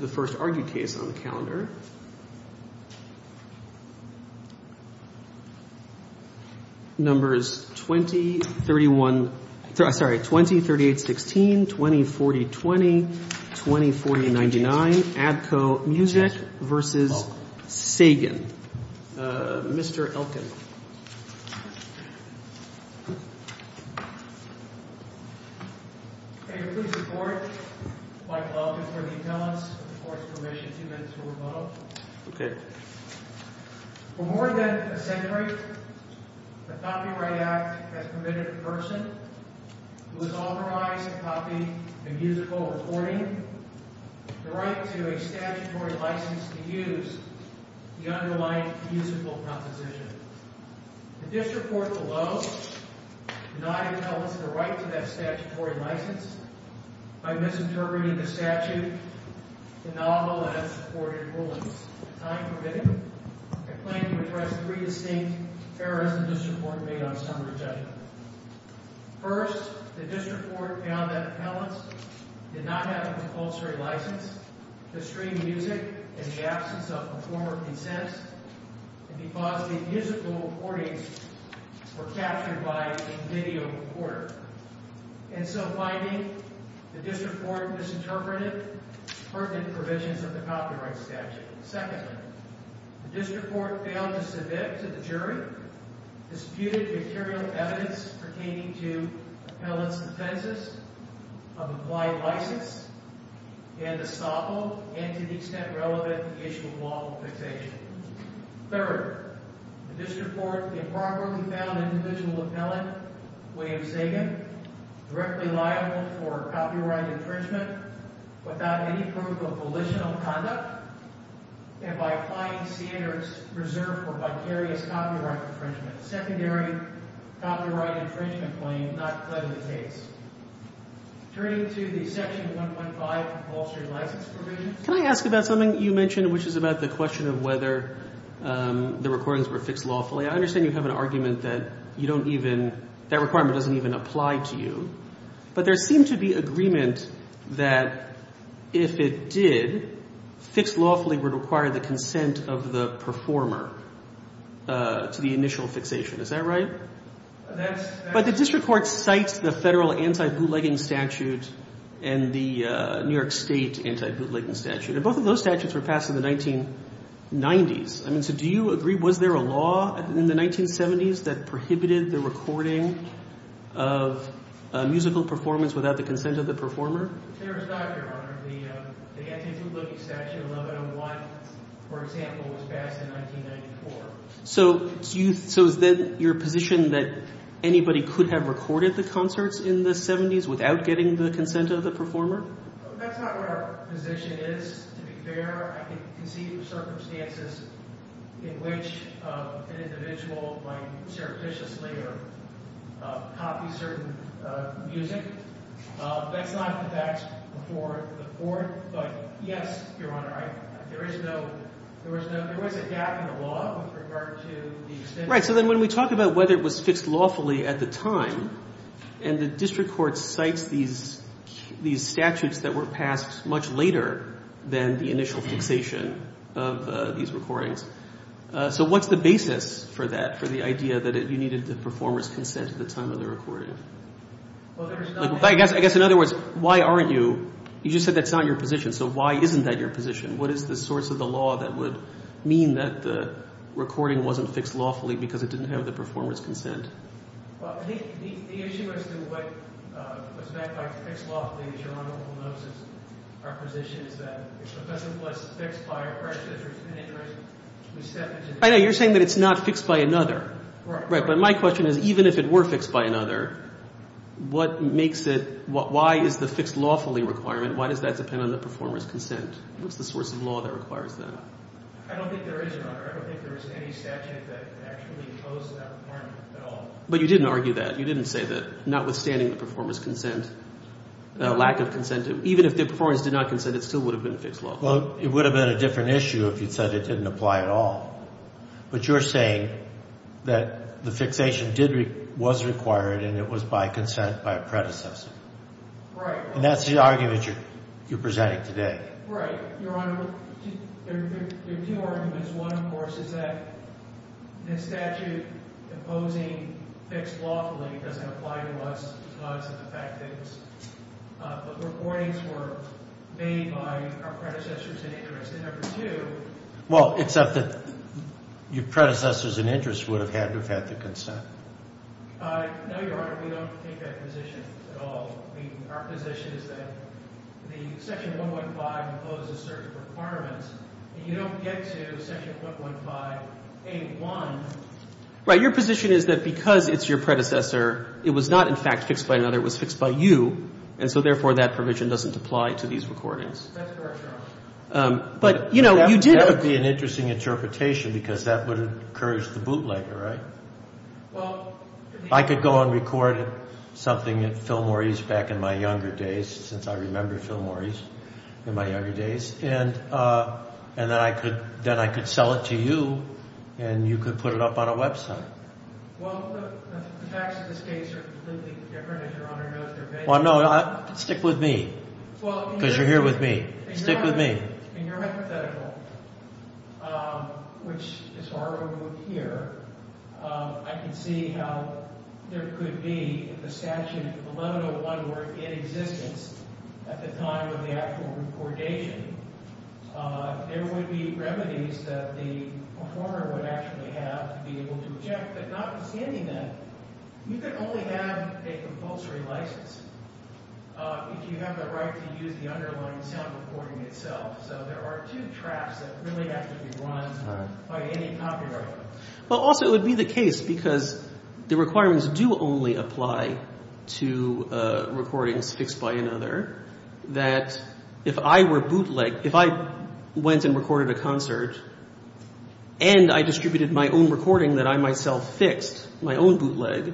The first argued case on the calendar, numbers 20, 38, 16, 20, 40, 20, 20, 40, 99, ABKCO Music v. Sagan. Mr. Elkin. Elkin. Claimant interpreter. Fight Law Complaint to the defense with the court's permission. Two minutes for revoked. For more than a century, the Copyright Act has permitted a person who has authorized to copy a musical recording the right to a statutory license to use the underlying musical composition. The district court below denied appellants the right to that statutory license by misinterpreting the statute, the novel, and its supported rulings. Time permitted, I plan to address three distinct errors the district court made on summary judgment. First, the district court found that appellants did not have a compulsory license to stream music in the absence of a former consent, and because the musical recordings were captured by a video recorder. And so finding the district court misinterpreted pertinent provisions of the copyright statute. Secondly, the district court failed to submit to the jury disputed material evidence pertaining to appellants' defenses of applied license and estoppel and, to the extent relevant, the issue of lawful fixation. Third, the district court improperly found individual appellant William Zagan directly liable for copyright infringement without any proof of volitional conduct and by applying standards reserved for vicarious copyright infringement. Secondary copyright infringement claim not pledged in case. Turning to the section 1.5 compulsory license provisions. Can I ask about something you mentioned, which is about the question of whether the recordings were fixed lawfully? I understand you have an argument that you don't even, that requirement doesn't even apply to you, but there seemed to be agreement that if it did, fixed lawfully would require the consent of the performer to the initial fixation. Is that right? But the district court cites the federal anti-bootlegging statute and the New York State anti-bootlegging statute. And both of those statutes were passed in the 1990s. I mean, so do you agree, was there a law in the 1970s that prohibited the recording of musical performance without the consent of the performer? There was not, Your Honor. The anti-bootlegging statute 1101, for example, was passed in 1994. So is then your position that anybody could have recorded the concerts in the 70s without getting the consent of the performer? That's not what our position is, to be fair. I can conceive of circumstances in which an individual might surreptitiously or copy certain music. That's not the facts before the court. But yes, Your Honor, there is no, there was a gap in the law with regard to the extent Right, so then when we talk about whether it was fixed lawfully at the time, and the district court cites these statutes that were passed much later than the initial fixation of these recordings. So what's the basis for that, for the idea that you needed the performer's consent at the time of the recording? I guess in other words, why aren't you, you just said that's not your position. So why isn't that your position? What is the source of the law that would mean that the recording wasn't fixed lawfully because it didn't have the performer's consent? Well, I think the issue as to what was meant by fixed lawfully, as Your Honor will notice, our position is that if a person was fixed by a precedent or an interest, we step into I know, you're saying that it's not fixed by another. Right. But my question is, even if it were fixed by another, what makes it, why is the fixed lawfully requirement, why does that depend on the performer's consent? What's the source of law that requires that? I don't think there is, Your Honor. I don't think there is any statute that actually imposes that requirement at all. But you didn't argue that. You didn't say that, notwithstanding the performer's consent, the lack of consent. Even if the performance did not consent, it still would have been fixed lawfully. Well, it would have been a different issue if you'd said it didn't apply at all. But you're saying that the fixation was required and it was by consent by a predecessor. Right. And that's the argument you're presenting today. Right. Your Honor, there are two arguments. One, of course, is that the statute imposing fixed lawfully doesn't apply to us because of the fact that the warnings were made by our predecessors in interest. Well, except that your predecessors in interest would have had to have had the consent. Right. Your position is that because it's your predecessor, it was not, in fact, fixed by another. It was fixed by you, and so, therefore, that provision doesn't apply to these recordings. That's correct, Your Honor. But, you know, you did— That would be an interesting interpretation because that would encourage the bootlegger, right? Well— I could go and record something at Philmore East back in my younger days, since I remember Philmore East in my younger days, and then I could sell it to you, and you could put it up on a website. Well, the facts of this case are completely different, as your Honor knows. Well, no, stick with me because you're here with me. Stick with me. In your hypothetical, which is far removed here, I can see how there could be, if the Statute 1101 were in existence at the time of the actual recordation, there would be remedies that the performer would actually have to be able to object, but notwithstanding that, you could only have a compulsory license if you have the right to use the underlying sound recording itself. So there are two traps that really have to be run by any copyright. Well, also, it would be the case, because the requirements do only apply to recordings fixed by another, that if I were bootlegged, if I went and recorded a concert and I distributed my own recording that I myself fixed, my own bootleg,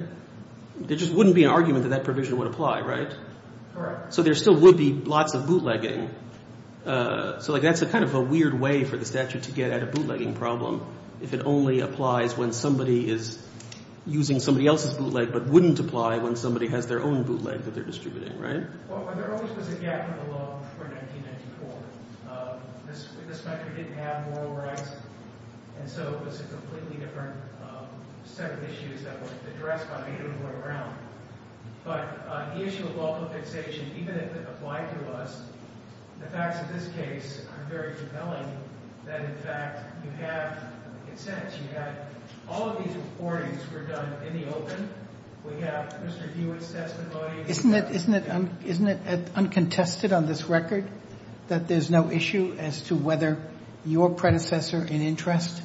there just wouldn't be an argument that that provision would apply, right? Correct. So there still would be lots of bootlegging. So, like, that's kind of a weird way for the statute to get at a bootlegging problem, if it only applies when somebody is using somebody else's bootleg but wouldn't apply when somebody has their own bootleg that they're distributing, right? Well, there always was a gap in the law before 1994. This country didn't have moral rights, and so it was a completely different set of issues that were addressed by people who were around. But the issue of local fixation, even if it applied to us, the facts of this case are very compelling that, in fact, you have, in a sense, you have all of these recordings were done in the open. We have Mr. Hewitt's testimony. Isn't it uncontested on this record that there's no issue as to whether your predecessor in interest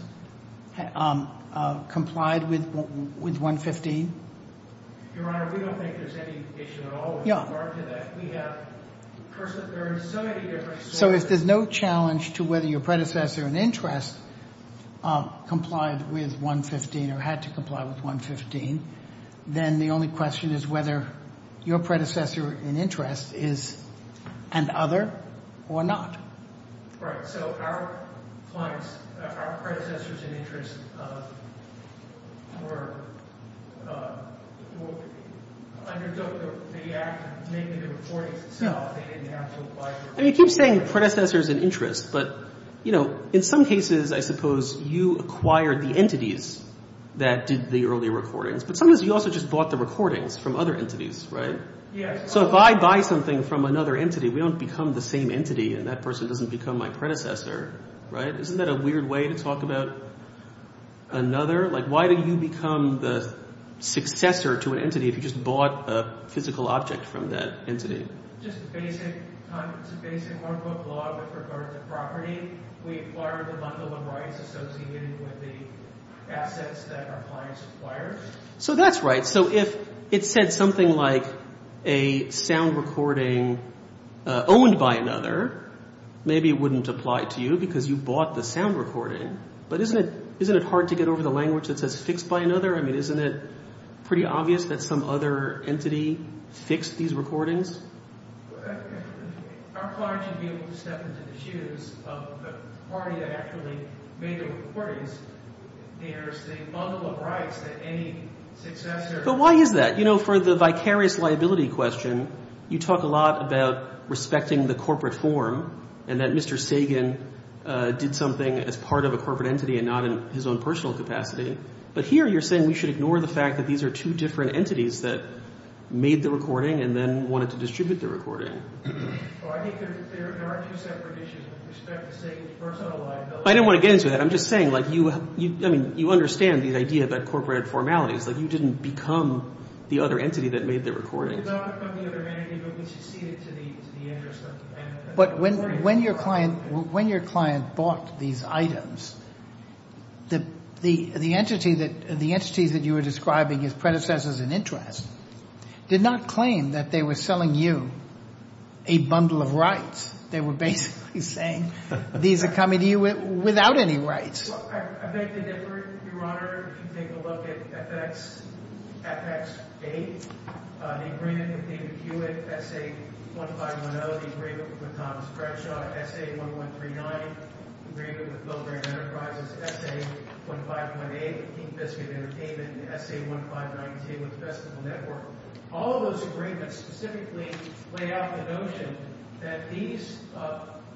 complied with 115? Your Honor, we don't think there's any issue at all with regard to that. We have persons. There are so many different sources. So if there's no challenge to whether your predecessor in interest complied with 115 or had to comply with 115, then the only question is whether your predecessor in interest is an other or not. Right. So our clients, our predecessors in interest, were underdog the act of making the recordings itself. They didn't have to comply. I mean, you keep saying predecessors in interest, but, you know, in some cases, I suppose you acquired the entities that did the early recordings. But sometimes you also just bought the recordings from other entities. Right. So if I buy something from another entity, we don't become the same entity and that person doesn't become my predecessor. Right. Isn't that a weird way to talk about another? Like, why do you become the successor to an entity if you just bought a physical object from that entity? It's a basic one-quote law with regard to property. We acquired the bundle of rights associated with the assets that our clients acquired. So that's right. So if it said something like a sound recording owned by another, maybe it wouldn't apply to you because you bought the sound recording. But isn't it hard to get over the language that says fixed by another? I mean, isn't it pretty obvious that some other entity fixed these recordings? But why is that? You know, for the vicarious liability question, you talk a lot about respecting the corporate form and that Mr. Sagan did something as part of a corporate entity and not in his own personal capacity. But here you're saying we should ignore the fact that these are two different entities that made the recording and then wanted to distribute the recording. I don't want to get into that. I'm just saying, like, you understand the idea about corporate formalities. Like, you didn't become the other entity that made the recording. We did not become the other entity, but we succeeded to the interest of the client. But when your client bought these items, the entities that you were describing as predecessors in interest did not claim that they were selling you a bundle of rights. They were basically saying these are coming to you without any rights. SA-1139, agreement with Milgram Enterprises. SA-1518, Kingfisker Entertainment. SA-1519 with Festival Network. All of those agreements specifically lay out the notion that these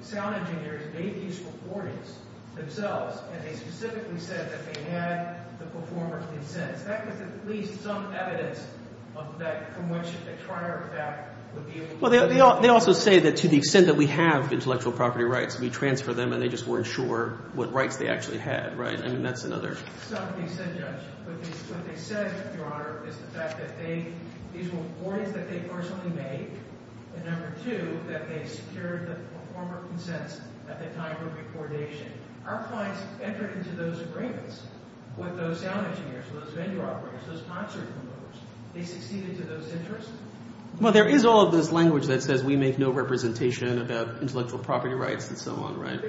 sound engineers made these recordings themselves and they specifically said that they had the performer's consent. That gives at least some evidence from which a trier of that would be able to... Well, they also say that to the extent that we have intellectual property rights, we transfer them and they just weren't sure what rights they actually had, right? I mean, that's another... It's not what they said, Judge. What they said, Your Honor, is the fact that these were recordings that they personally made and number two, that they secured the performer's consent at the time of the recordation. Our clients entered into those agreements with those sound engineers, those vendor operators, those concert promoters. They succeeded to those interests? Well, there is all of this language that says we make no representation about intellectual property rights and so on, right?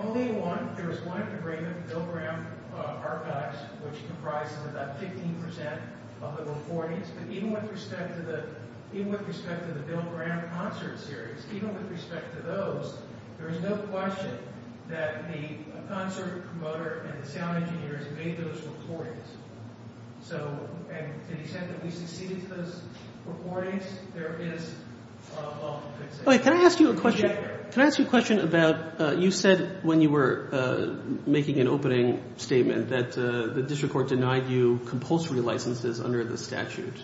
Only one. There was one agreement, Milgram Archives, which comprised about 15% of the recordings. But even with respect to the Milgram Concert Series, even with respect to those, there is no question that the concert promoter and the sound engineers made those recordings. So to the extent that we succeeded to those recordings, there is... Wait, can I ask you a question? Can I ask you a question about you said when you were making an opening statement that the district court denied you compulsory licenses under the statute.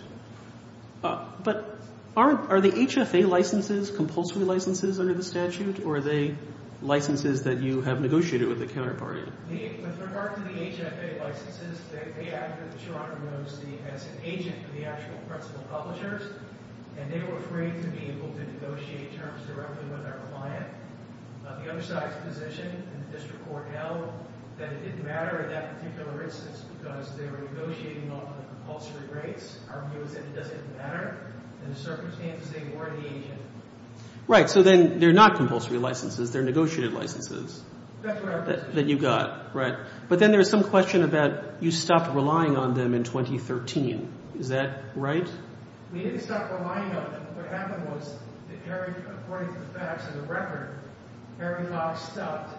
But are the HFA licenses compulsory licenses under the statute or are they licenses that you have negotiated with the counterparty? With regard to the HFA licenses, they acted as an agent for the actual principal publishers and they were free to be able to negotiate terms directly with our client. The other side's position in the district court held that it didn't matter in that particular instance because they were negotiating on compulsory rates. Our view is that it doesn't matter. In the circumstances, they were the agent. Right. So then they're not compulsory licenses. They're negotiated licenses. That's right. That you got. Right. But then there's some question about you stopped relying on them in 2013. Is that right? We didn't stop relying on them. What happened was that, according to the facts of the record, Harry Fox stopped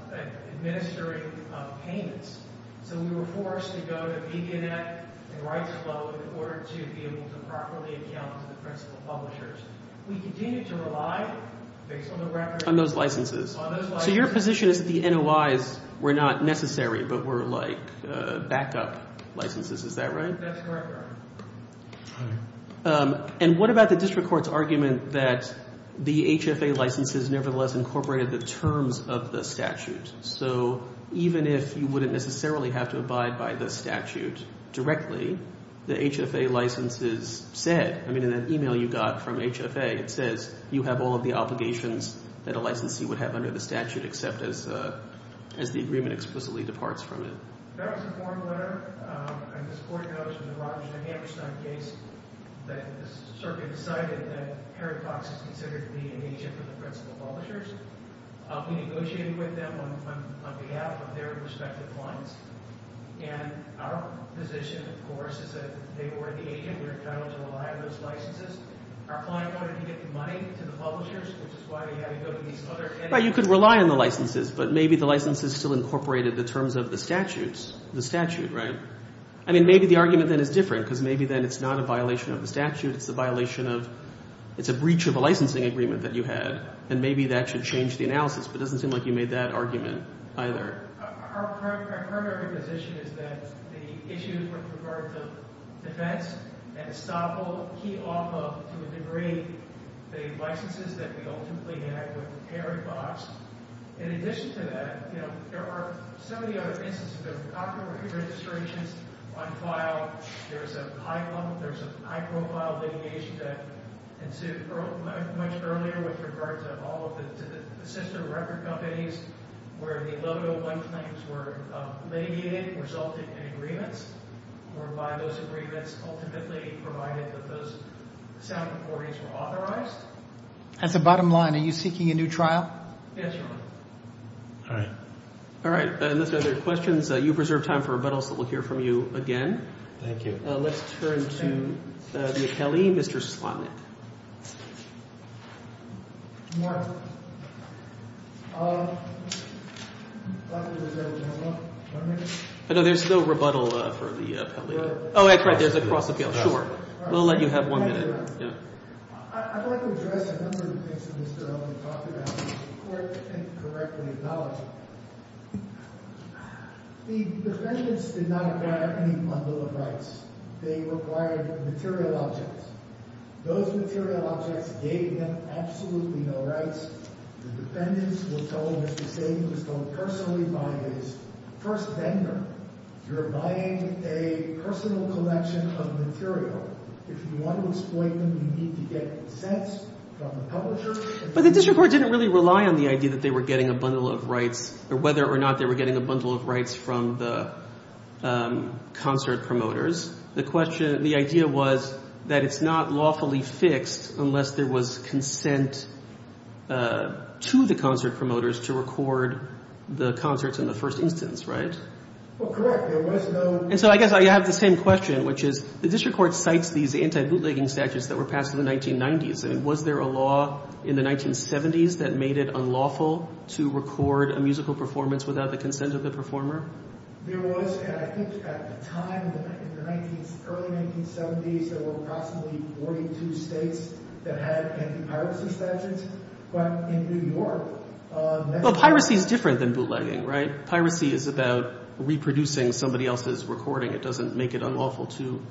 administering payments. So we were forced to go to the Vegan Act and write a loan in order to be able to properly account to the principal publishers. We continued to rely, based on the record... On those licenses. So your position is that the NOIs were not necessary but were like backup licenses. Is that right? That's correct, Your Honor. And what about the district court's argument that the HFA licenses nevertheless incorporated the terms of the statute? So even if you wouldn't necessarily have to abide by the statute directly, the HFA licenses said, I mean, in that e-mail you got from HFA, it says you have all of the obligations that a licensee would have under the statute except as the agreement explicitly departs from it. That was a form letter. And this court noticed in the Rodgers v. Hammerstein case that the circuit decided that Harry Fox is considered to be an agent for the principal publishers. We negotiated with them on behalf of their respective clients. And our position, of course, is that they were the agent. We were entitled to rely on those licenses. Our client wanted to give the money to the publishers, which is why we had to go to these other entities. Well, you could rely on the licenses, but maybe the licenses still incorporated the terms of the statute, right? I mean, maybe the argument then is different because maybe then it's not a violation of the statute. It's a violation of the breach of a licensing agreement that you had, and maybe that should change the analysis, but it doesn't seem like you made that argument either. Our current argument position is that the issues with regard to defense and estoppel key off of, to a degree, the licenses that we ultimately had with Harry Fox. In addition to that, you know, there are so many other instances of copyright registrations on file. There's a high-profile litigation that ensued much earlier with regard to all of the sister record companies where the 1101 claims were mitigated and resulted in agreements, whereby those agreements ultimately provided that those sound recordings were authorized. That's the bottom line. Are you seeking a new trial? Yes, Your Honor. All right. All right. Unless there are other questions, you have reserved time for rebuttals, so we'll hear from you again. Thank you. Let's turn to the Akeli. Mr. Slotnick. I know there's no rebuttal for the Akeli. Oh, that's right. There's a cross-appeal. Sure. We'll let you have one minute. Yeah. I'd like to address a number of things that Mr. Elman talked about that the Court can't correctly acknowledge. The defendants did not acquire any bundle of rights. They required material objects. Those material objects, they have absolutely no rights. The defendants were told, as you say, it was told personally by his first vendor, you're buying a personal collection of material. If you want to exploit them, you need to get the sets from the publisher. But the district court didn't really rely on the idea that they were getting a bundle of rights, or whether or not they were getting a bundle of rights from the concert promoters. The idea was that it's not lawfully fixed unless there was consent to the concert promoters to record the concerts in the first instance, right? Well, correct. And so I guess I have the same question, which is the district court cites these anti-bootlegging statutes that were passed in the 1990s. Was there a law in the 1970s that made it unlawful to record a musical performance without the consent of the performer? There was, I think, at the time, in the early 1970s, there were approximately 42 states that had anti-piracy statutes. But in New York... Well, piracy is different than bootlegging, right? Piracy is about reproducing somebody else's recording. It doesn't make it unlawful to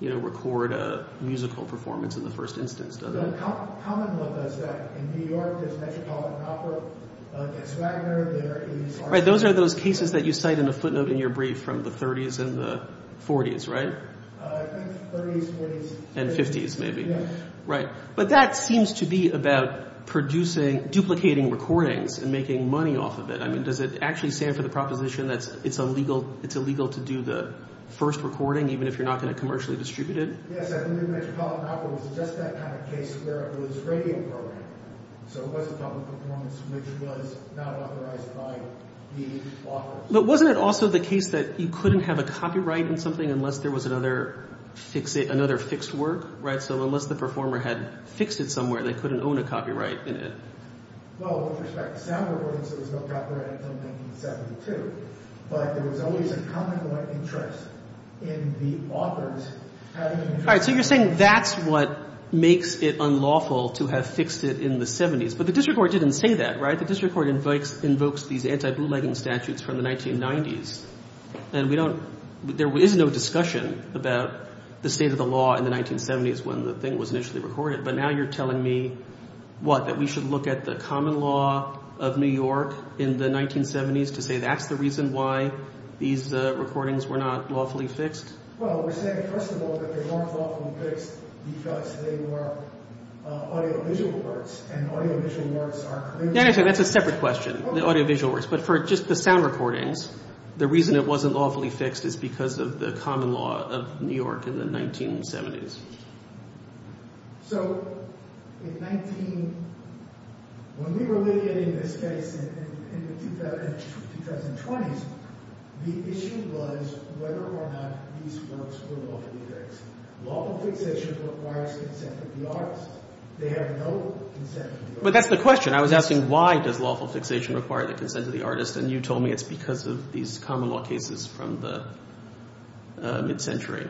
record a musical performance in the first instance, does it? The common law is that in New York, there's Metropolitan Opera, there's Wagner, there is... Right, those are those cases that you cite in the footnote in your brief from the 30s and the 40s, right? I think 30s, 40s... And 50s, maybe. Right. But that seems to be about producing, duplicating recordings and making money off of it. I mean, does it actually stand for the proposition that it's illegal to do the first recording even if you're not going to commercially distribute it? Yes, I believe Metropolitan Opera was just that kind of case where it was radio programming. So it wasn't public performance, which was not authorized by the authors. But wasn't it also the case that you couldn't have a copyright on something unless there was another fixed work, right? So unless the performer had fixed it somewhere, they couldn't own a copyright in it. Well, with respect to sound recordings, there was no copyright until 1972. But there was always a common interest in the authors having... All right, so you're saying that's what makes it unlawful to have fixed it in the 70s. But the district court didn't say that, right? The district court invokes these anti-blue-legging statutes from the 1990s. And we don't... There is no discussion about the state of the law in the 1970s when the thing was initially recorded. But now you're telling me, what, that we should look at the common law of New York in the 1970s to say that's the reason why these recordings were not lawfully fixed? Well, we're saying, first of all, that they weren't lawfully fixed because they were audiovisual works and audiovisual works are... No, no, no, that's a separate question, the audiovisual works. But for just the sound recordings, the reason it wasn't lawfully fixed is because of the common law of New York in the 1970s. So in 19... When we were litigating this case in the 2020s, the issue was whether or not these works were lawfully fixed. Lawful fixation requires consent of the artist. They have no consent of the artist. But that's the question. I was asking, why does lawful fixation require the consent of the artist? And you told me it's because of these common law cases from the mid-century,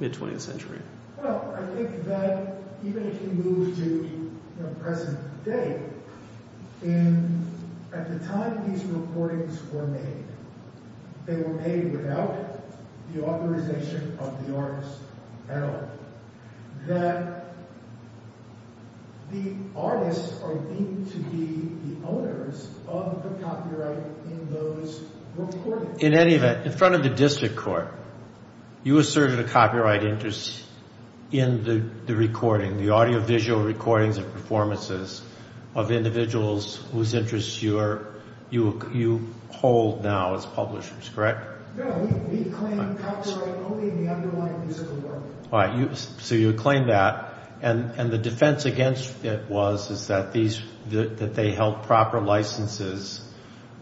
mid-20th century. Well, I think that even if you move to the present day, at the time these recordings were made, they were made without the authorization of the artist at all. That the artists are deemed to be the owners of the copyright in those recordings. In any event, in front of the district court, you asserted a copyright interest in the recording, the audiovisual recordings and performances of individuals whose interests you hold now as publishers, correct? No, we claim copyright only in the underlying musical work. All right, so you claim that. And the defense against it was that they held proper licenses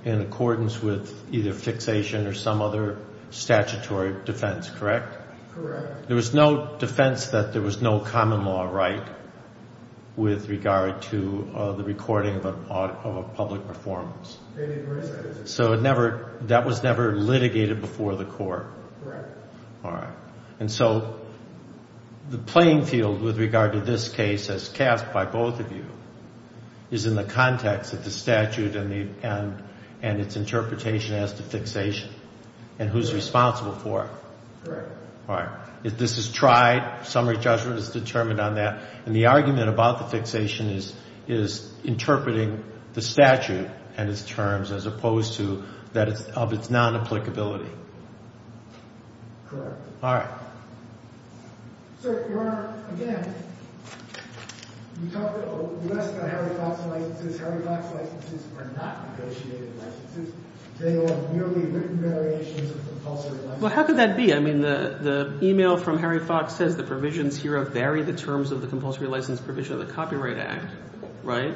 in accordance with either fixation or some other statutory defense, correct? Correct. There was no defense that there was no common law right with regard to the recording of a public performance? It was. Correct. All right. And so the playing field with regard to this case as cast by both of you is in the context of the statute and its interpretation as to fixation and who's responsible for it. Correct. All right. If this is tried, summary judgment is determined on that. And the argument about the fixation is interpreting the statute and its terms as opposed to that of its non-applicability. Correct. All right. Sir, Your Honor, again, you asked about Harry Fox licenses. Harry Fox licenses are not negotiated licenses. They are merely written variations of compulsory licenses. Well, how could that be? I mean, the email from Harry Fox says the provisions here vary the terms of the compulsory license provision of the Copyright Act, right?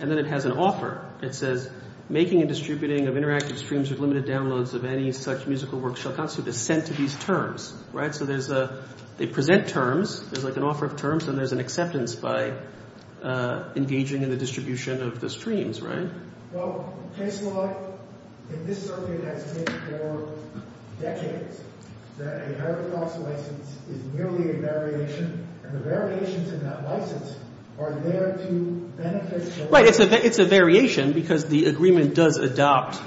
And then it has an offer. It says, making and distributing of interactive streams with limited downloads of any such musical work shall constitute dissent to these terms. Right? So there's a they present terms. There's like an offer of terms, and there's an acceptance by engaging in the distribution of the streams, right? Well, case law in this circuit has been for decades that a Harry Fox license is merely a variation. And the variations in that license are there to benefit the license. Right. It's a variation because the agreement does adopt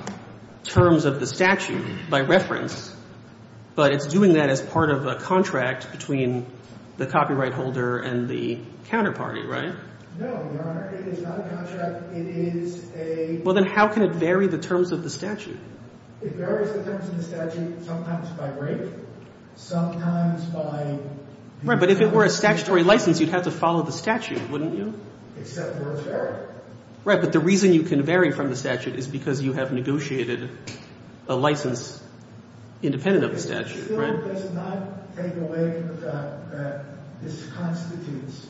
terms of the statute by reference, but it's doing that as part of a contract between the copyright holder and the counterparty, right? No, Your Honor. It is not a contract. It is a... Well, then how can it vary the terms of the statute? It varies the terms of the statute sometimes by rate, sometimes by... Right, but if it were a statutory license, you'd have to follow the statute, wouldn't you? Except words vary. Right, but the reason you can vary from the statute is because you have negotiated a license independent of the statute, right? It still does not take away from the fact that this constitutes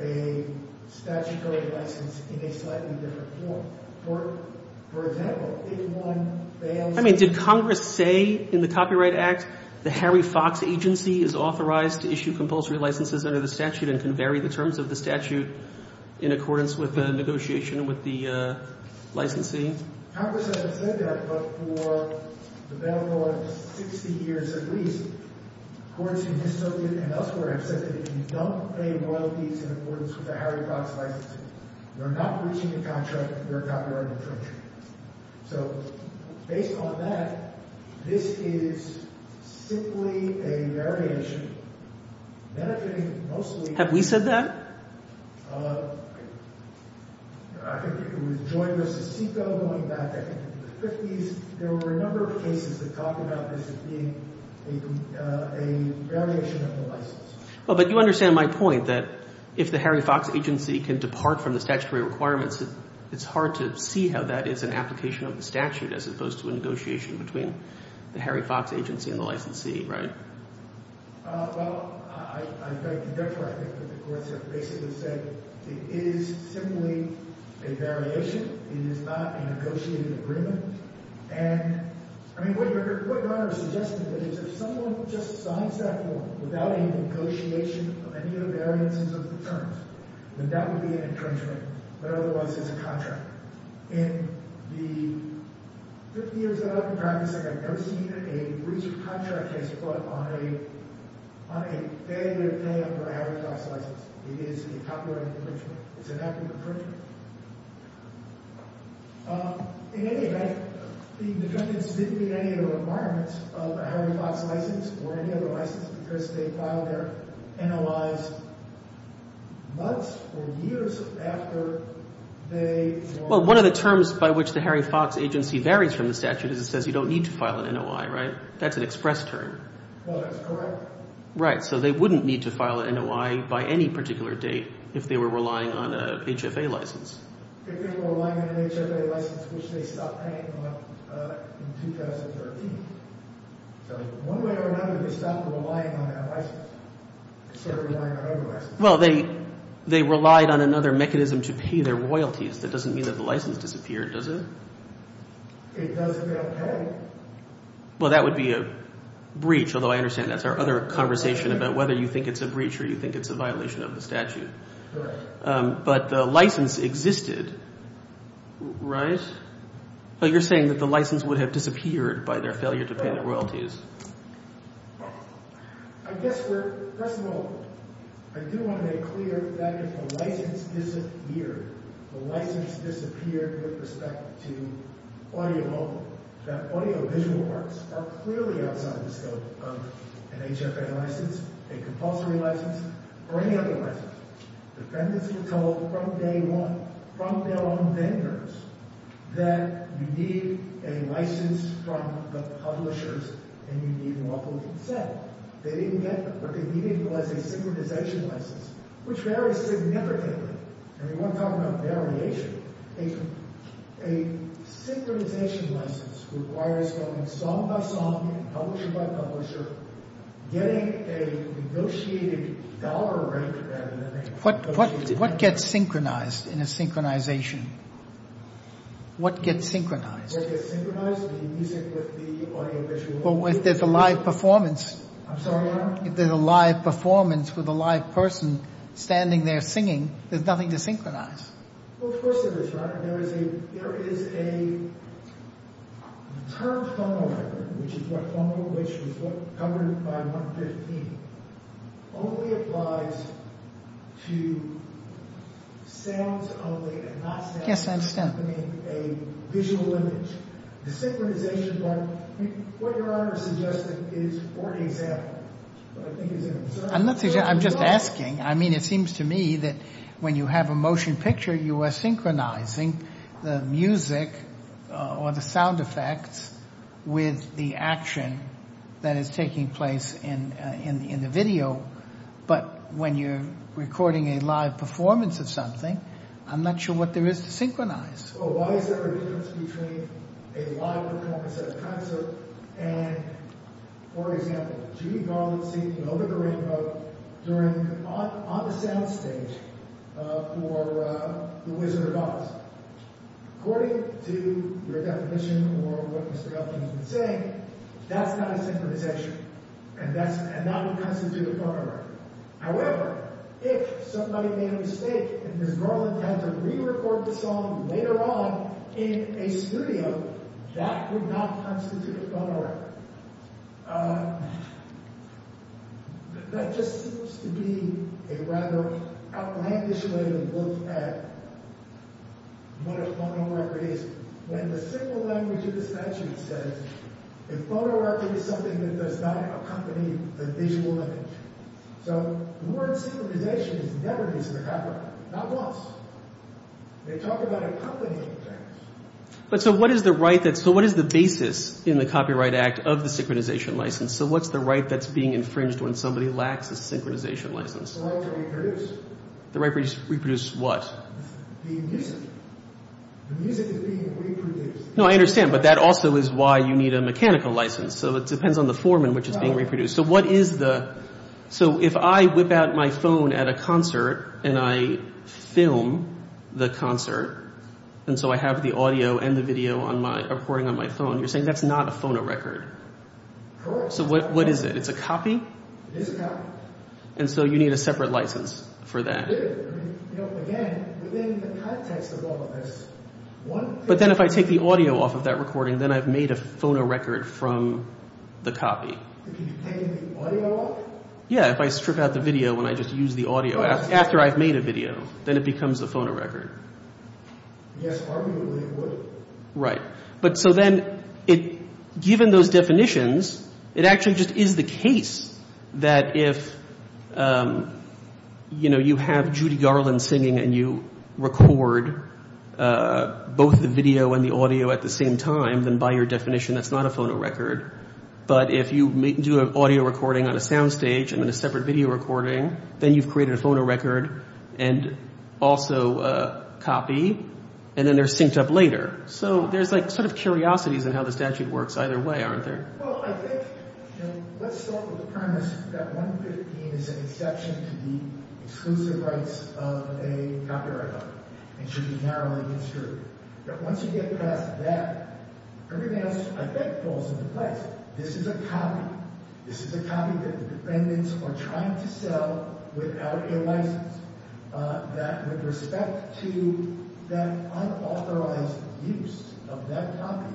a statutory license in a slightly different form. For example, if one bans... I mean, did Congress say in the Copyright Act the Harry Fox agency is authorized to issue compulsory licenses under the statute and can vary the terms of the statute in accordance with the negotiation with the licensing? Congress hasn't said that, but for the better part of 60 years at least, courts in Histolia and elsewhere have said that if you don't pay royalties in accordance with the Harry Fox licensing, you're not breaching the contract, you're a copyright infringer. So based on that, this is simply a variation benefiting mostly... Have we said that? I think it was Joy v. SICO going back, I think, to the 50s. There were a number of cases that talked about this as being a variation of the license. But you understand my point that if the Harry Fox agency can depart from the statutory requirements, it's hard to see how that is an application of the statute as opposed to a negotiation between the Harry Fox agency and the licensee, right? Well, I beg to differ. I think that the courts have basically said it is simply a variation. It is not a negotiated agreement. And, I mean, what Your Honor is suggesting is if someone just signs that form without any negotiation of any of the variances of the terms, then that would be an infringement, but otherwise it's a contract. In the 50 years that I've been practicing, I've never seen a breach of contract case brought on a failure to pay up for a Harry Fox license. It is a copyright infringement. It's an act of infringement. In any event, the defendants didn't meet any of the requirements of a Harry Fox license or any other license because they filed their NOI's months or years after they... Well, one of the terms by which the Harry Fox agency varies from the statute is it says you don't need to file an NOI, right? That's an express term. Well, that's correct. Right, so they wouldn't need to file an NOI by any particular date if they were relying on an HFA license. If they were relying on an HFA license, which they stopped paying on in 2013. So one way or another, they stopped relying on that license. They started relying on other licenses. Well, they relied on another mechanism to pay their royalties. That doesn't mean that the license disappeared, does it? It does if they don't pay. Well, that would be a breach, although I understand that's our other conversation about whether you think it's a breach or you think it's a violation of the statute. Correct. But the license existed, right? But you're saying that the license would have disappeared by their failure to pay their royalties. I guess we're... First of all, I do want to make clear that if a license disappeared, the license disappeared with respect to audiovisual arts are clearly outside the scope of an HFA license, a compulsory license, or any other license. Defendants were told from day one, from their own vendors, that you need a license from the publishers and you need lawful consent. They didn't get them. What they needed was a synchronization license, which varies significantly. And we want to talk about variation. A synchronization license requires going song by song, publisher by publisher, getting a negotiated dollar rate rather than a... What gets synchronized in a synchronization? What gets synchronized? What gets synchronized? The music with the audiovisual... Well, if there's a live performance... I'm sorry, Your Honor? If there's a live performance with a live person standing there singing, there's nothing to synchronize. Well, of course there is, Your Honor. There is a termed phono record, which is what phono, which is what covered by 115, only applies to sounds only and not sounds... Yes, I understand. I mean, a visual image. The synchronization, Your Honor, what Your Honor is suggesting is for example, but I think it's a concern. I'm not suggesting... I'm just asking. I mean, it seems to me that when you have a motion picture, you are synchronizing the music or the sound effects with the action that is taking place in the video, but when you're recording a live performance of something, I'm not sure what there is to synchronize. Well, why is there a difference between a live performance as a concert and for example, Judy Garland singing Over the Rainbow on the sound stage for The Wizard of Oz? According to your definition or what Mr. Elton has been saying, that's not a synchronization, and that would constitute a phono record. However, if somebody made a mistake and Ms. Garland had to re-record the song later on in a studio, that would not constitute a phono record. That just seems to be a rather outlandish way to look at what a phono record is when the single language of the statute says a phono record is something that does not accompany the visual image. So the word synchronization is never used in the copyright, not once. They talk about accompanying things. So what is the basis in the Copyright Act of the synchronization license? So what's the right that's being infringed when somebody lacks a synchronization license? The right to reproduce. The right to reproduce what? The music. The music is being reproduced. No, I understand, but that also is why you need a mechanical license. So it depends on the form in which it's being reproduced. So if I whip out my phone at a concert and I film the concert, and so I have the audio and the video recording on my phone, you're saying that's not a phono record. Correct. So what is it? It's a copy? It is a copy. And so you need a separate license for that. You do. Again, within the context of all of this, one thing— But then if I take the audio off of that recording, then I've made a phono record from the copy. You're taking the audio off? Yeah, if I strip out the video and I just use the audio after I've made a video, then it becomes a phono record. Yes, arguably it would. Right. But so then, given those definitions, it actually just is the case that if you have Judy Garland singing and you record both the video and the audio at the same time, then by your definition that's not a phono record. But if you do an audio recording on a soundstage and then a separate video recording, then you've created a phono record and also a copy, and then they're synced up later. So there's like sort of curiosities in how the statute works either way, aren't there? Well, I think, you know, let's start with the premise that 115 is an exception to the exclusive rights of a copyright holder and should be narrowly construed. But once you get past that, everything else I think falls into place. This is a copy. This is a copy that the defendants are trying to sell without a license. With respect to that unauthorized use of that copy,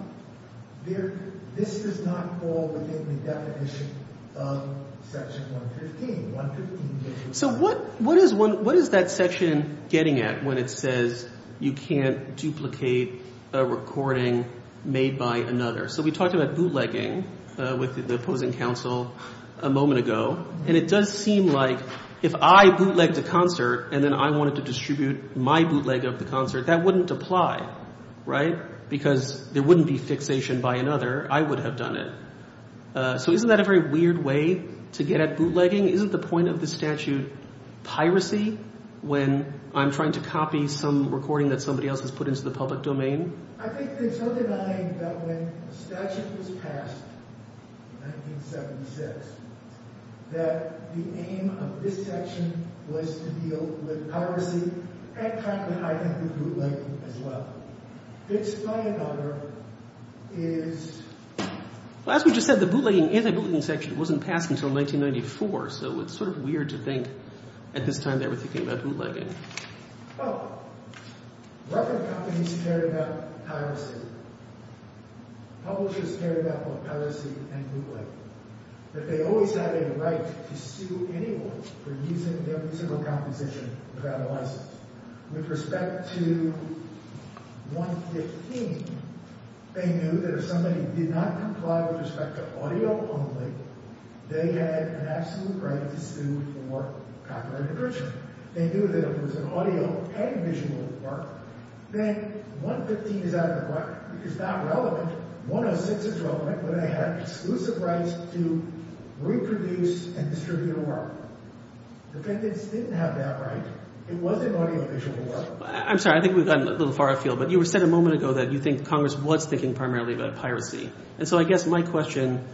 this does not fall within the definition of Section 115. So what is that section getting at when it says you can't duplicate a recording made by another? So we talked about bootlegging with the opposing counsel a moment ago, and it does seem like if I bootlegged a concert and then I wanted to distribute my bootleg of the concert, that wouldn't apply, right? Because there wouldn't be fixation by another. I would have done it. So isn't that a very weird way to get at bootlegging? Isn't the point of the statute piracy when I'm trying to copy some recording that somebody else has put into the public domain? So I think there's no denying that when the statute was passed in 1976, that the aim of this section was to deal with piracy and try to hide under bootlegging as well. This by and large is— Well, as we just said, the bootlegging and anti-bootlegging section wasn't passed until 1994, so it's sort of weird to think at this time they were thinking about bootlegging. Well, record companies cared about piracy. Publishers cared about both piracy and bootlegging. But they always had a right to sue anyone for using their musical composition without a license. With respect to 115, they knew that if somebody did not comply with respect to audio only, they had an absolute right to sue for copyright infringement. They knew that if it was an audio and visual work, then 115 is out of the question. It's not relevant. 106 is relevant, but they had exclusive rights to reproduce and distribute a work. Defendants didn't have that right. It was an audiovisual work. I'm sorry. I think we've gotten a little far afield. But you said a moment ago that you think Congress was thinking primarily about piracy. And so I guess my question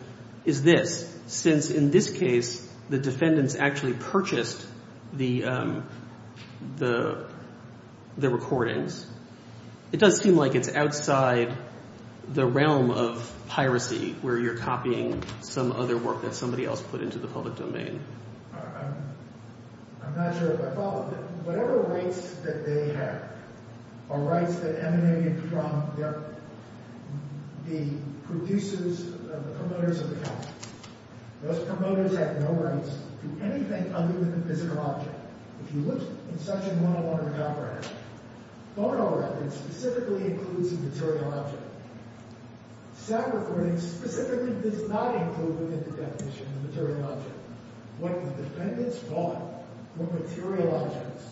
is this. Since in this case the defendants actually purchased the recordings, it does seem like it's outside the realm of piracy where you're copying some other work that somebody else put into the public domain. I'm not sure if I followed it. Whatever rights that they had are rights that emanated from the producers, the promoters of the copies. Those promoters had no rights to anything other than the physical object. If you look in Section 101 of the Copyright Act, phonorecords specifically includes the material object. Sound recordings specifically does not include within the definition the material object. What the defendants bought were material objects.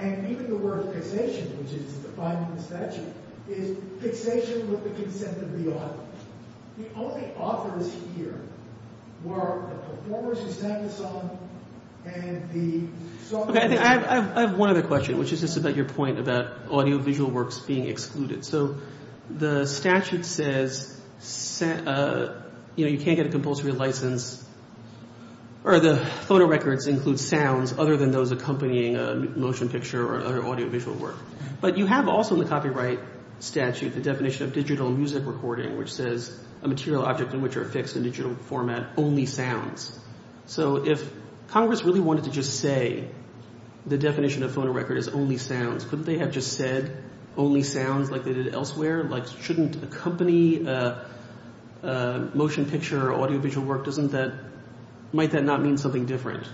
And even the word fixation, which is defined in the statute, is fixation with the consent of the author. The only authors here were the performers who sang the song and the songwriters. I have one other question, which is just about your point about audiovisual works being excluded. So the statute says you can't get a compulsory license or the phonorecords include sounds other than those accompanying a motion picture or audiovisual work. But you have also in the copyright statute the definition of digital music recording, which says a material object in which are fixed in digital format only sounds. So if Congress really wanted to just say the definition of phonorecord is only sounds, couldn't they have just said only sounds like they did elsewhere? Like shouldn't accompany a motion picture or audiovisual work, doesn't that – might that not mean something different?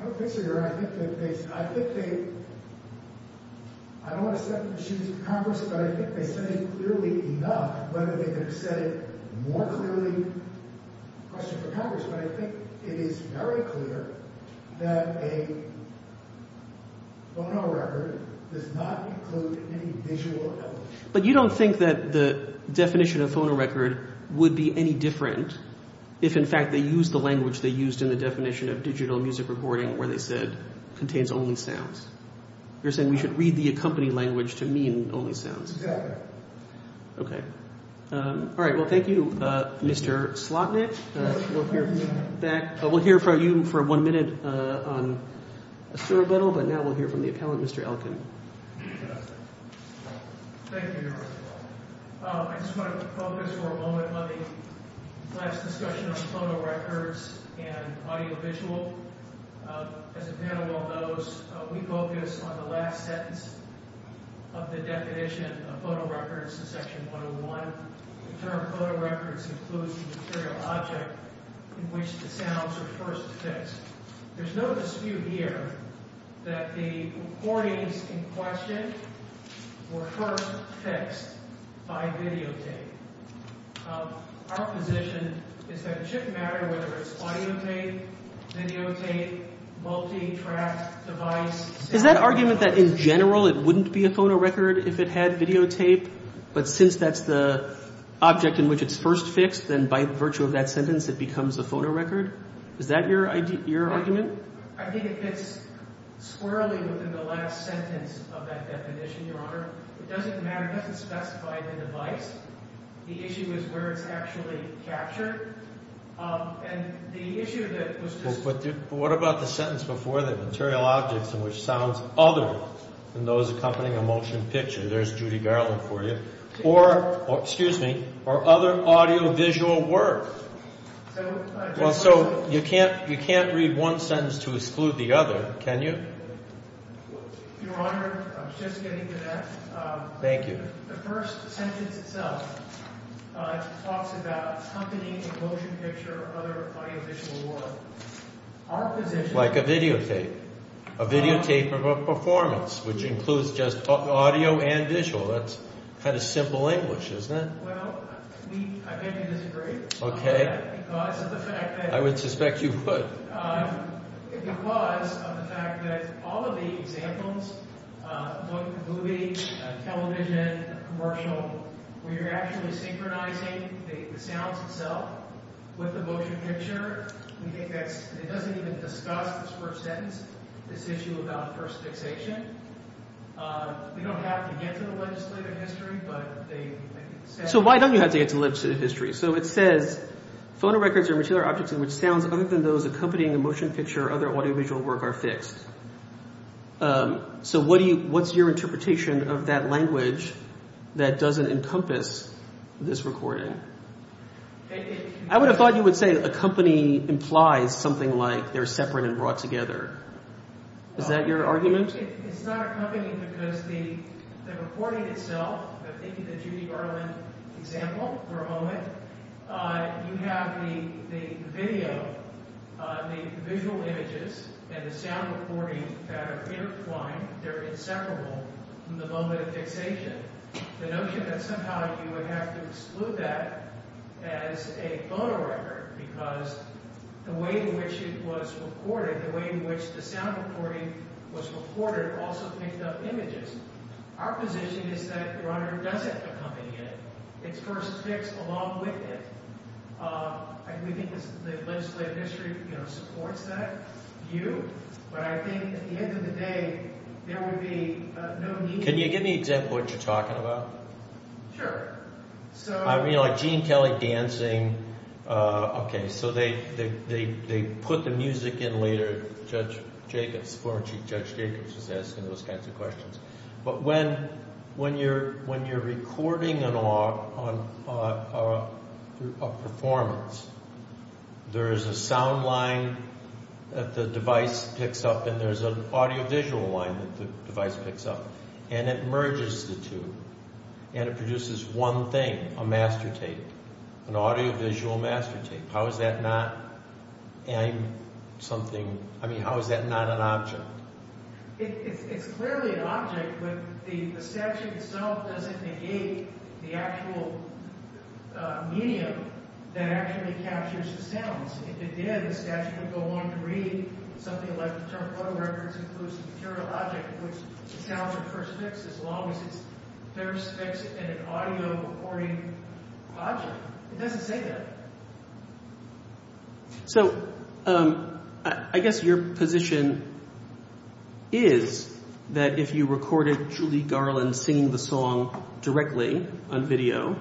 I don't think so, Your Honor. I think that they – I think they – I don't want to set the issues to Congress, but I think they said it clearly enough. Whether they could have said it more clearly, question for Congress. But I think it is very clear that a phonorecord does not include any visual element. But you don't think that the definition of phonorecord would be any different if, in fact, they used the language they used in the definition of digital music recording where they said contains only sounds? You're saying we should read the accompany language to mean only sounds? Exactly. Okay. All right. Well, thank you, Mr. Slotnick. We'll hear from you back – we'll hear from you for one minute on a surreptitial, but now we'll hear from the appellant, Mr. Elkin. Thank you, Your Honor. I just want to focus for a moment on the last discussion on phonorecords and audiovisual. As the panel well knows, we focus on the last sentence of the definition of phonorecords in Section 101. The term phonorecords includes the material object in which the sounds are first fixed. There's no dispute here that the recordings in question were first fixed by videotape. Our position is that it shouldn't matter whether it's audiotape, videotape, multi-track device. Is that argument that in general it wouldn't be a phonorecord if it had videotape, but since that's the object in which it's first fixed, then by virtue of that sentence it becomes a phonorecord? Is that your argument? I think it fits squarely within the last sentence of that definition, Your Honor. It doesn't matter, it doesn't specify the device. The issue is where it's actually captured. And the issue that was just— But what about the sentence before that, material objects in which sounds other than those accompanying a motion picture? There's Judy Garland for you. Or, excuse me, or other audiovisual work. Well, so you can't read one sentence to exclude the other, can you? Your Honor, I was just getting to that. Thank you. The first sentence itself talks about accompanying a motion picture or other audiovisual work. Our position— Like a videotape. A videotape of a performance, which includes just audio and visual. That's kind of simple English, isn't it? Well, I think you disagree. Okay. Because of the fact that— I would suspect you would. Because of the fact that all of the examples, movie, television, commercial, where you're actually synchronizing the sounds itself with the motion picture, we think that's— It doesn't even discuss this first sentence, this issue about first fixation. We don't have to get to the legislative history, but they— So why don't you have to get to the legislative history? So it says, So what's your interpretation of that language that doesn't encompass this recording? I would have thought you would say accompany implies something like they're separate and brought together. Is that your argument? It's not accompanying because the recording itself, the Judy Garland example for a moment, you have the video, the visual images, and the sound recording that are intertwined. They're inseparable from the moment of fixation. The notion that somehow you would have to exclude that as a photo record because the way in which it was recorded, the way in which the sound recording was recorded also picked up images. Our position is that your honor doesn't accompany it. It's first fixed along with it. We think the legislative history supports that view, but I think at the end of the day, there would be no need— Can you give me an example of what you're talking about? Sure. I mean like Gene Kelly dancing. Okay, so they put the music in later. Judge Jacobs, former Chief Judge Jacobs, is asking those kinds of questions. But when you're recording a performance, there is a sound line that the device picks up, and there's an audiovisual line that the device picks up, and it merges the two, and it produces one thing, a master tape, an audiovisual master tape. How is that not an object? It's clearly an object, but the statute itself doesn't negate the actual medium that actually captures the sounds. If it did, the statute would go on to read something like the term photo records includes the material object, which the sounds are first fixed as long as it's first fixed in an audio recording object. It doesn't say that. So I guess your position is that if you recorded Julie Garland singing the song directly on video,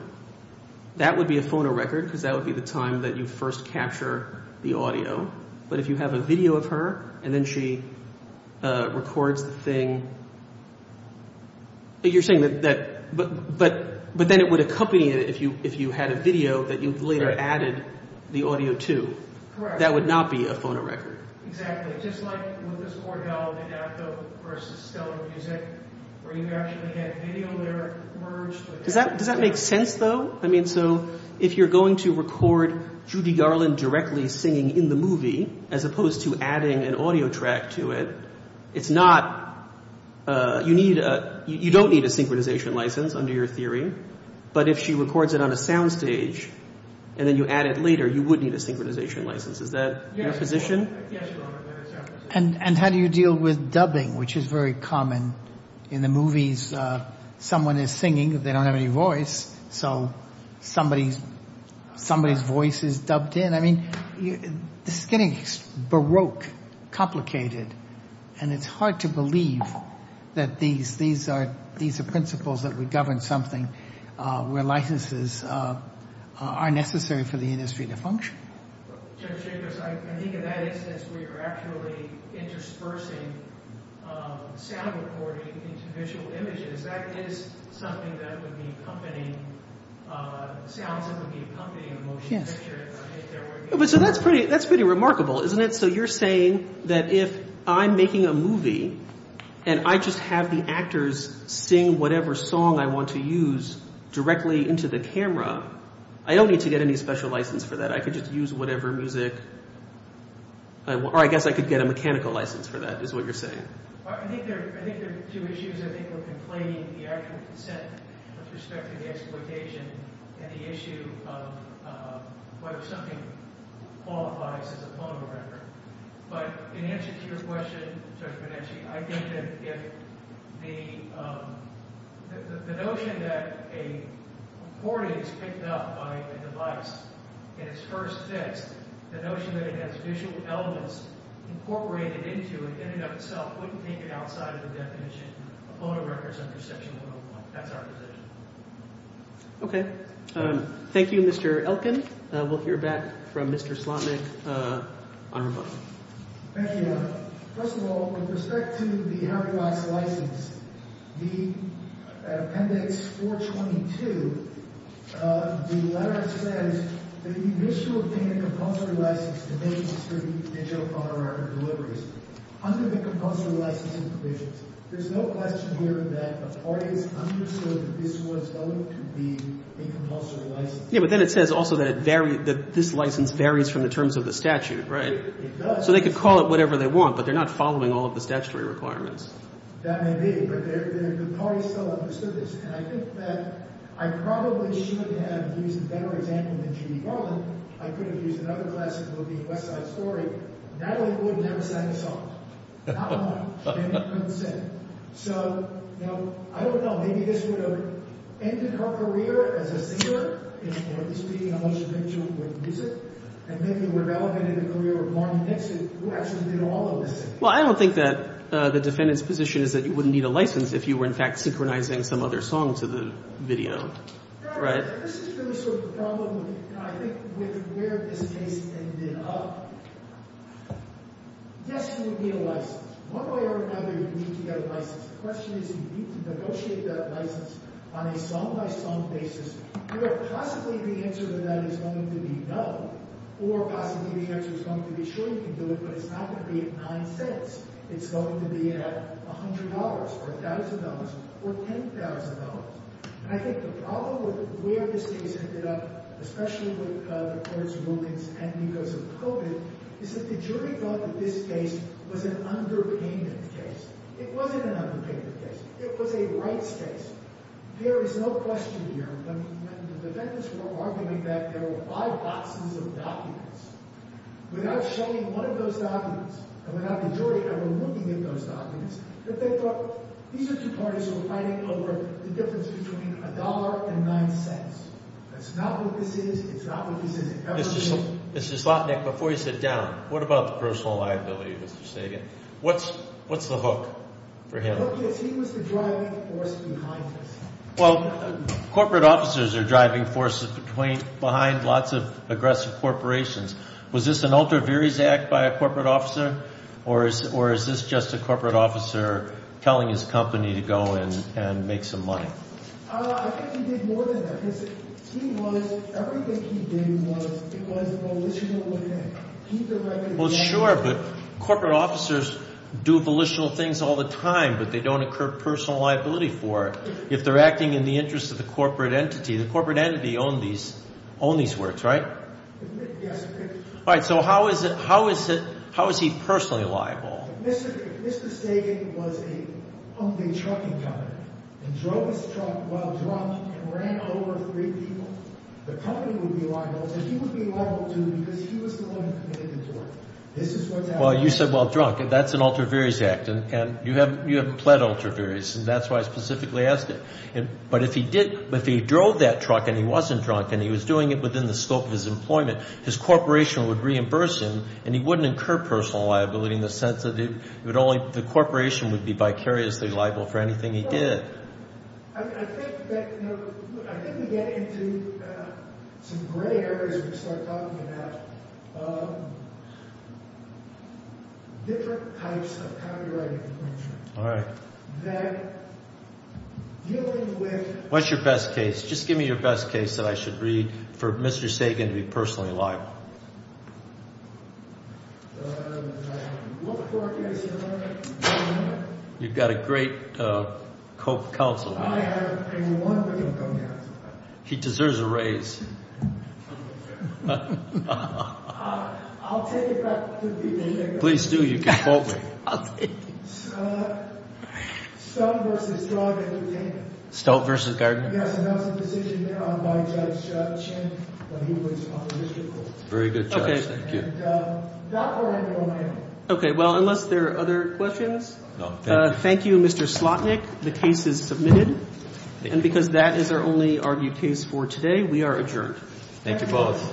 that would be a phonorecord because that would be the time that you first capture the audio. But if you have a video of her, and then she records the thing, but then it would accompany it if you had a video that you later added the audio to. Correct. That would not be a phonorecord. Exactly. Just like with this Cordell and Addo versus Stellar Music, where you actually had video there merged. Does that make sense, though? I mean, so if you're going to record Judy Garland directly singing in the movie as opposed to adding an audio track to it, you don't need a synchronization license under your theory. But if she records it on a soundstage and then you add it later, you would need a synchronization license. Is that your position? Yes. And how do you deal with dubbing, which is very common? In the movies, someone is singing. They don't have any voice, so somebody's voice is dubbed in. I mean, this is getting baroque, complicated, and it's hard to believe that these are principles that would govern something where licenses are necessary for the industry to function. I think in that instance, we were actually interspersing sound recording into visual images. That is something that would be accompanying sounds. It would be accompanying a motion picture. Yes. So that's pretty remarkable, isn't it? And so you're saying that if I'm making a movie and I just have the actors sing whatever song I want to use directly into the camera, I don't need to get any special license for that. I could just use whatever music – or I guess I could get a mechanical license for that, is what you're saying. I think there are two issues. I think we're conflating the actual consent with respect to the exploitation and the issue of whether something qualifies as a photo record. But in answer to your question, Judge Bonacci, I think that if the notion that a recording is picked up by a device in its first text, the notion that it has visual elements incorporated into it in and of itself wouldn't take it outside of the definition of a photo record under Section 101. That's our position. Okay. Thank you, Mr. Elkin. We'll hear back from Mr. Slotnick on our phone. Thank you. First of all, with respect to the Harry Weiss license, the Appendix 422, the letter says that if you wish to obtain a compulsory license to make and distribute digital photo record deliveries under the compulsory licensing provisions, there's no question here that the parties understood that this was going to be a compulsory license. Yeah, but then it says also that this license varies from the terms of the statute, right? It does. So they could call it whatever they want, but they're not following all of the statutory requirements. That may be, but the parties still understood this. And I think that I probably should have used a better example than Judy Garland. I could have used another classic movie, West Side Story. Natalie Wood never signed a song. Not one. And it couldn't sing. Well, I don't think that the defendant's position is that you wouldn't need a license if you were, in fact, synchronizing some other song to the video, right? This is really sort of the problem, I think, with where this case ended up. Yes, you would need a license. One way or another, you need to get a license. The question is, you need to negotiate that license on a sum-by-sum basis where possibly the answer to that is going to be no, or possibly the answer is going to be, sure, you can do it, but it's not going to be at nine cents. It's going to be at $100 or $1,000 or $10,000. And I think the problem with where this case ended up, especially with the courts' rulings and because of COVID, is that the jury thought that this case was an underpayment case. It wasn't an underpayment case. It was a rights case. There is no question here that the defendants were arguing that there were five boxes of documents. Without showing one of those documents, and without the jury ever looking at those documents, that they thought, these are two parties who are fighting over the difference between a dollar and nine cents. That's not what this is. It's not what this is. It never is. Mr. Slotnick, before you sit down, what about the personal liability, Mr. Sagan? What's the hook for him? The hook is he was the driving force behind this. Well, corporate officers are driving forces behind lots of aggressive corporations. Was this an ultra viris act by a corporate officer, or is this just a corporate officer telling his company to go and make some money? I think he did more than that because he was – everything he did was a volitional event. Well, sure, but corporate officers do volitional things all the time, but they don't incur personal liability for it if they're acting in the interest of the corporate entity. The corporate entity owned these works, right? Yes. All right. So how is he personally liable? Mr. Sagan was a trucking company and drove his truck while drunk and ran over three people. The company would be liable, and he would be liable, too, because he was the one who committed the tort. This is what happened. Well, you said while drunk, and that's an ultra viris act, and you haven't pled ultra viris, and that's why I specifically asked it. But if he drove that truck and he wasn't drunk and he was doing it within the scope of his employment, his corporation would reimburse him, and he wouldn't incur personal liability in the sense that the corporation would be vicariously liable for anything he did. I think we get into some gray areas when we start talking about different types of copyright infringement. All right. That dealing with— What's your best case? Just give me your best case that I should read for Mr. Sagan to be personally liable. I haven't looked for it yet, sir. You've got a great co-counselor. I have a wonderful co-counselor. He deserves a raise. I'll take it back to the— Please do. You can quote me. I'll take it. Stoat v. Drug Entertainment. Stoat v. Gardner? Yes, and that was a decision made on by Judge Chen when he was in opposition to the court. Very good, Judge. Thank you. And Dr. Randall and I— Okay, well, unless there are other questions? No, thank you. Thank you, Mr. Slotnick. The case is submitted. And because that is our only argued case for today, we are adjourned. Thank you both.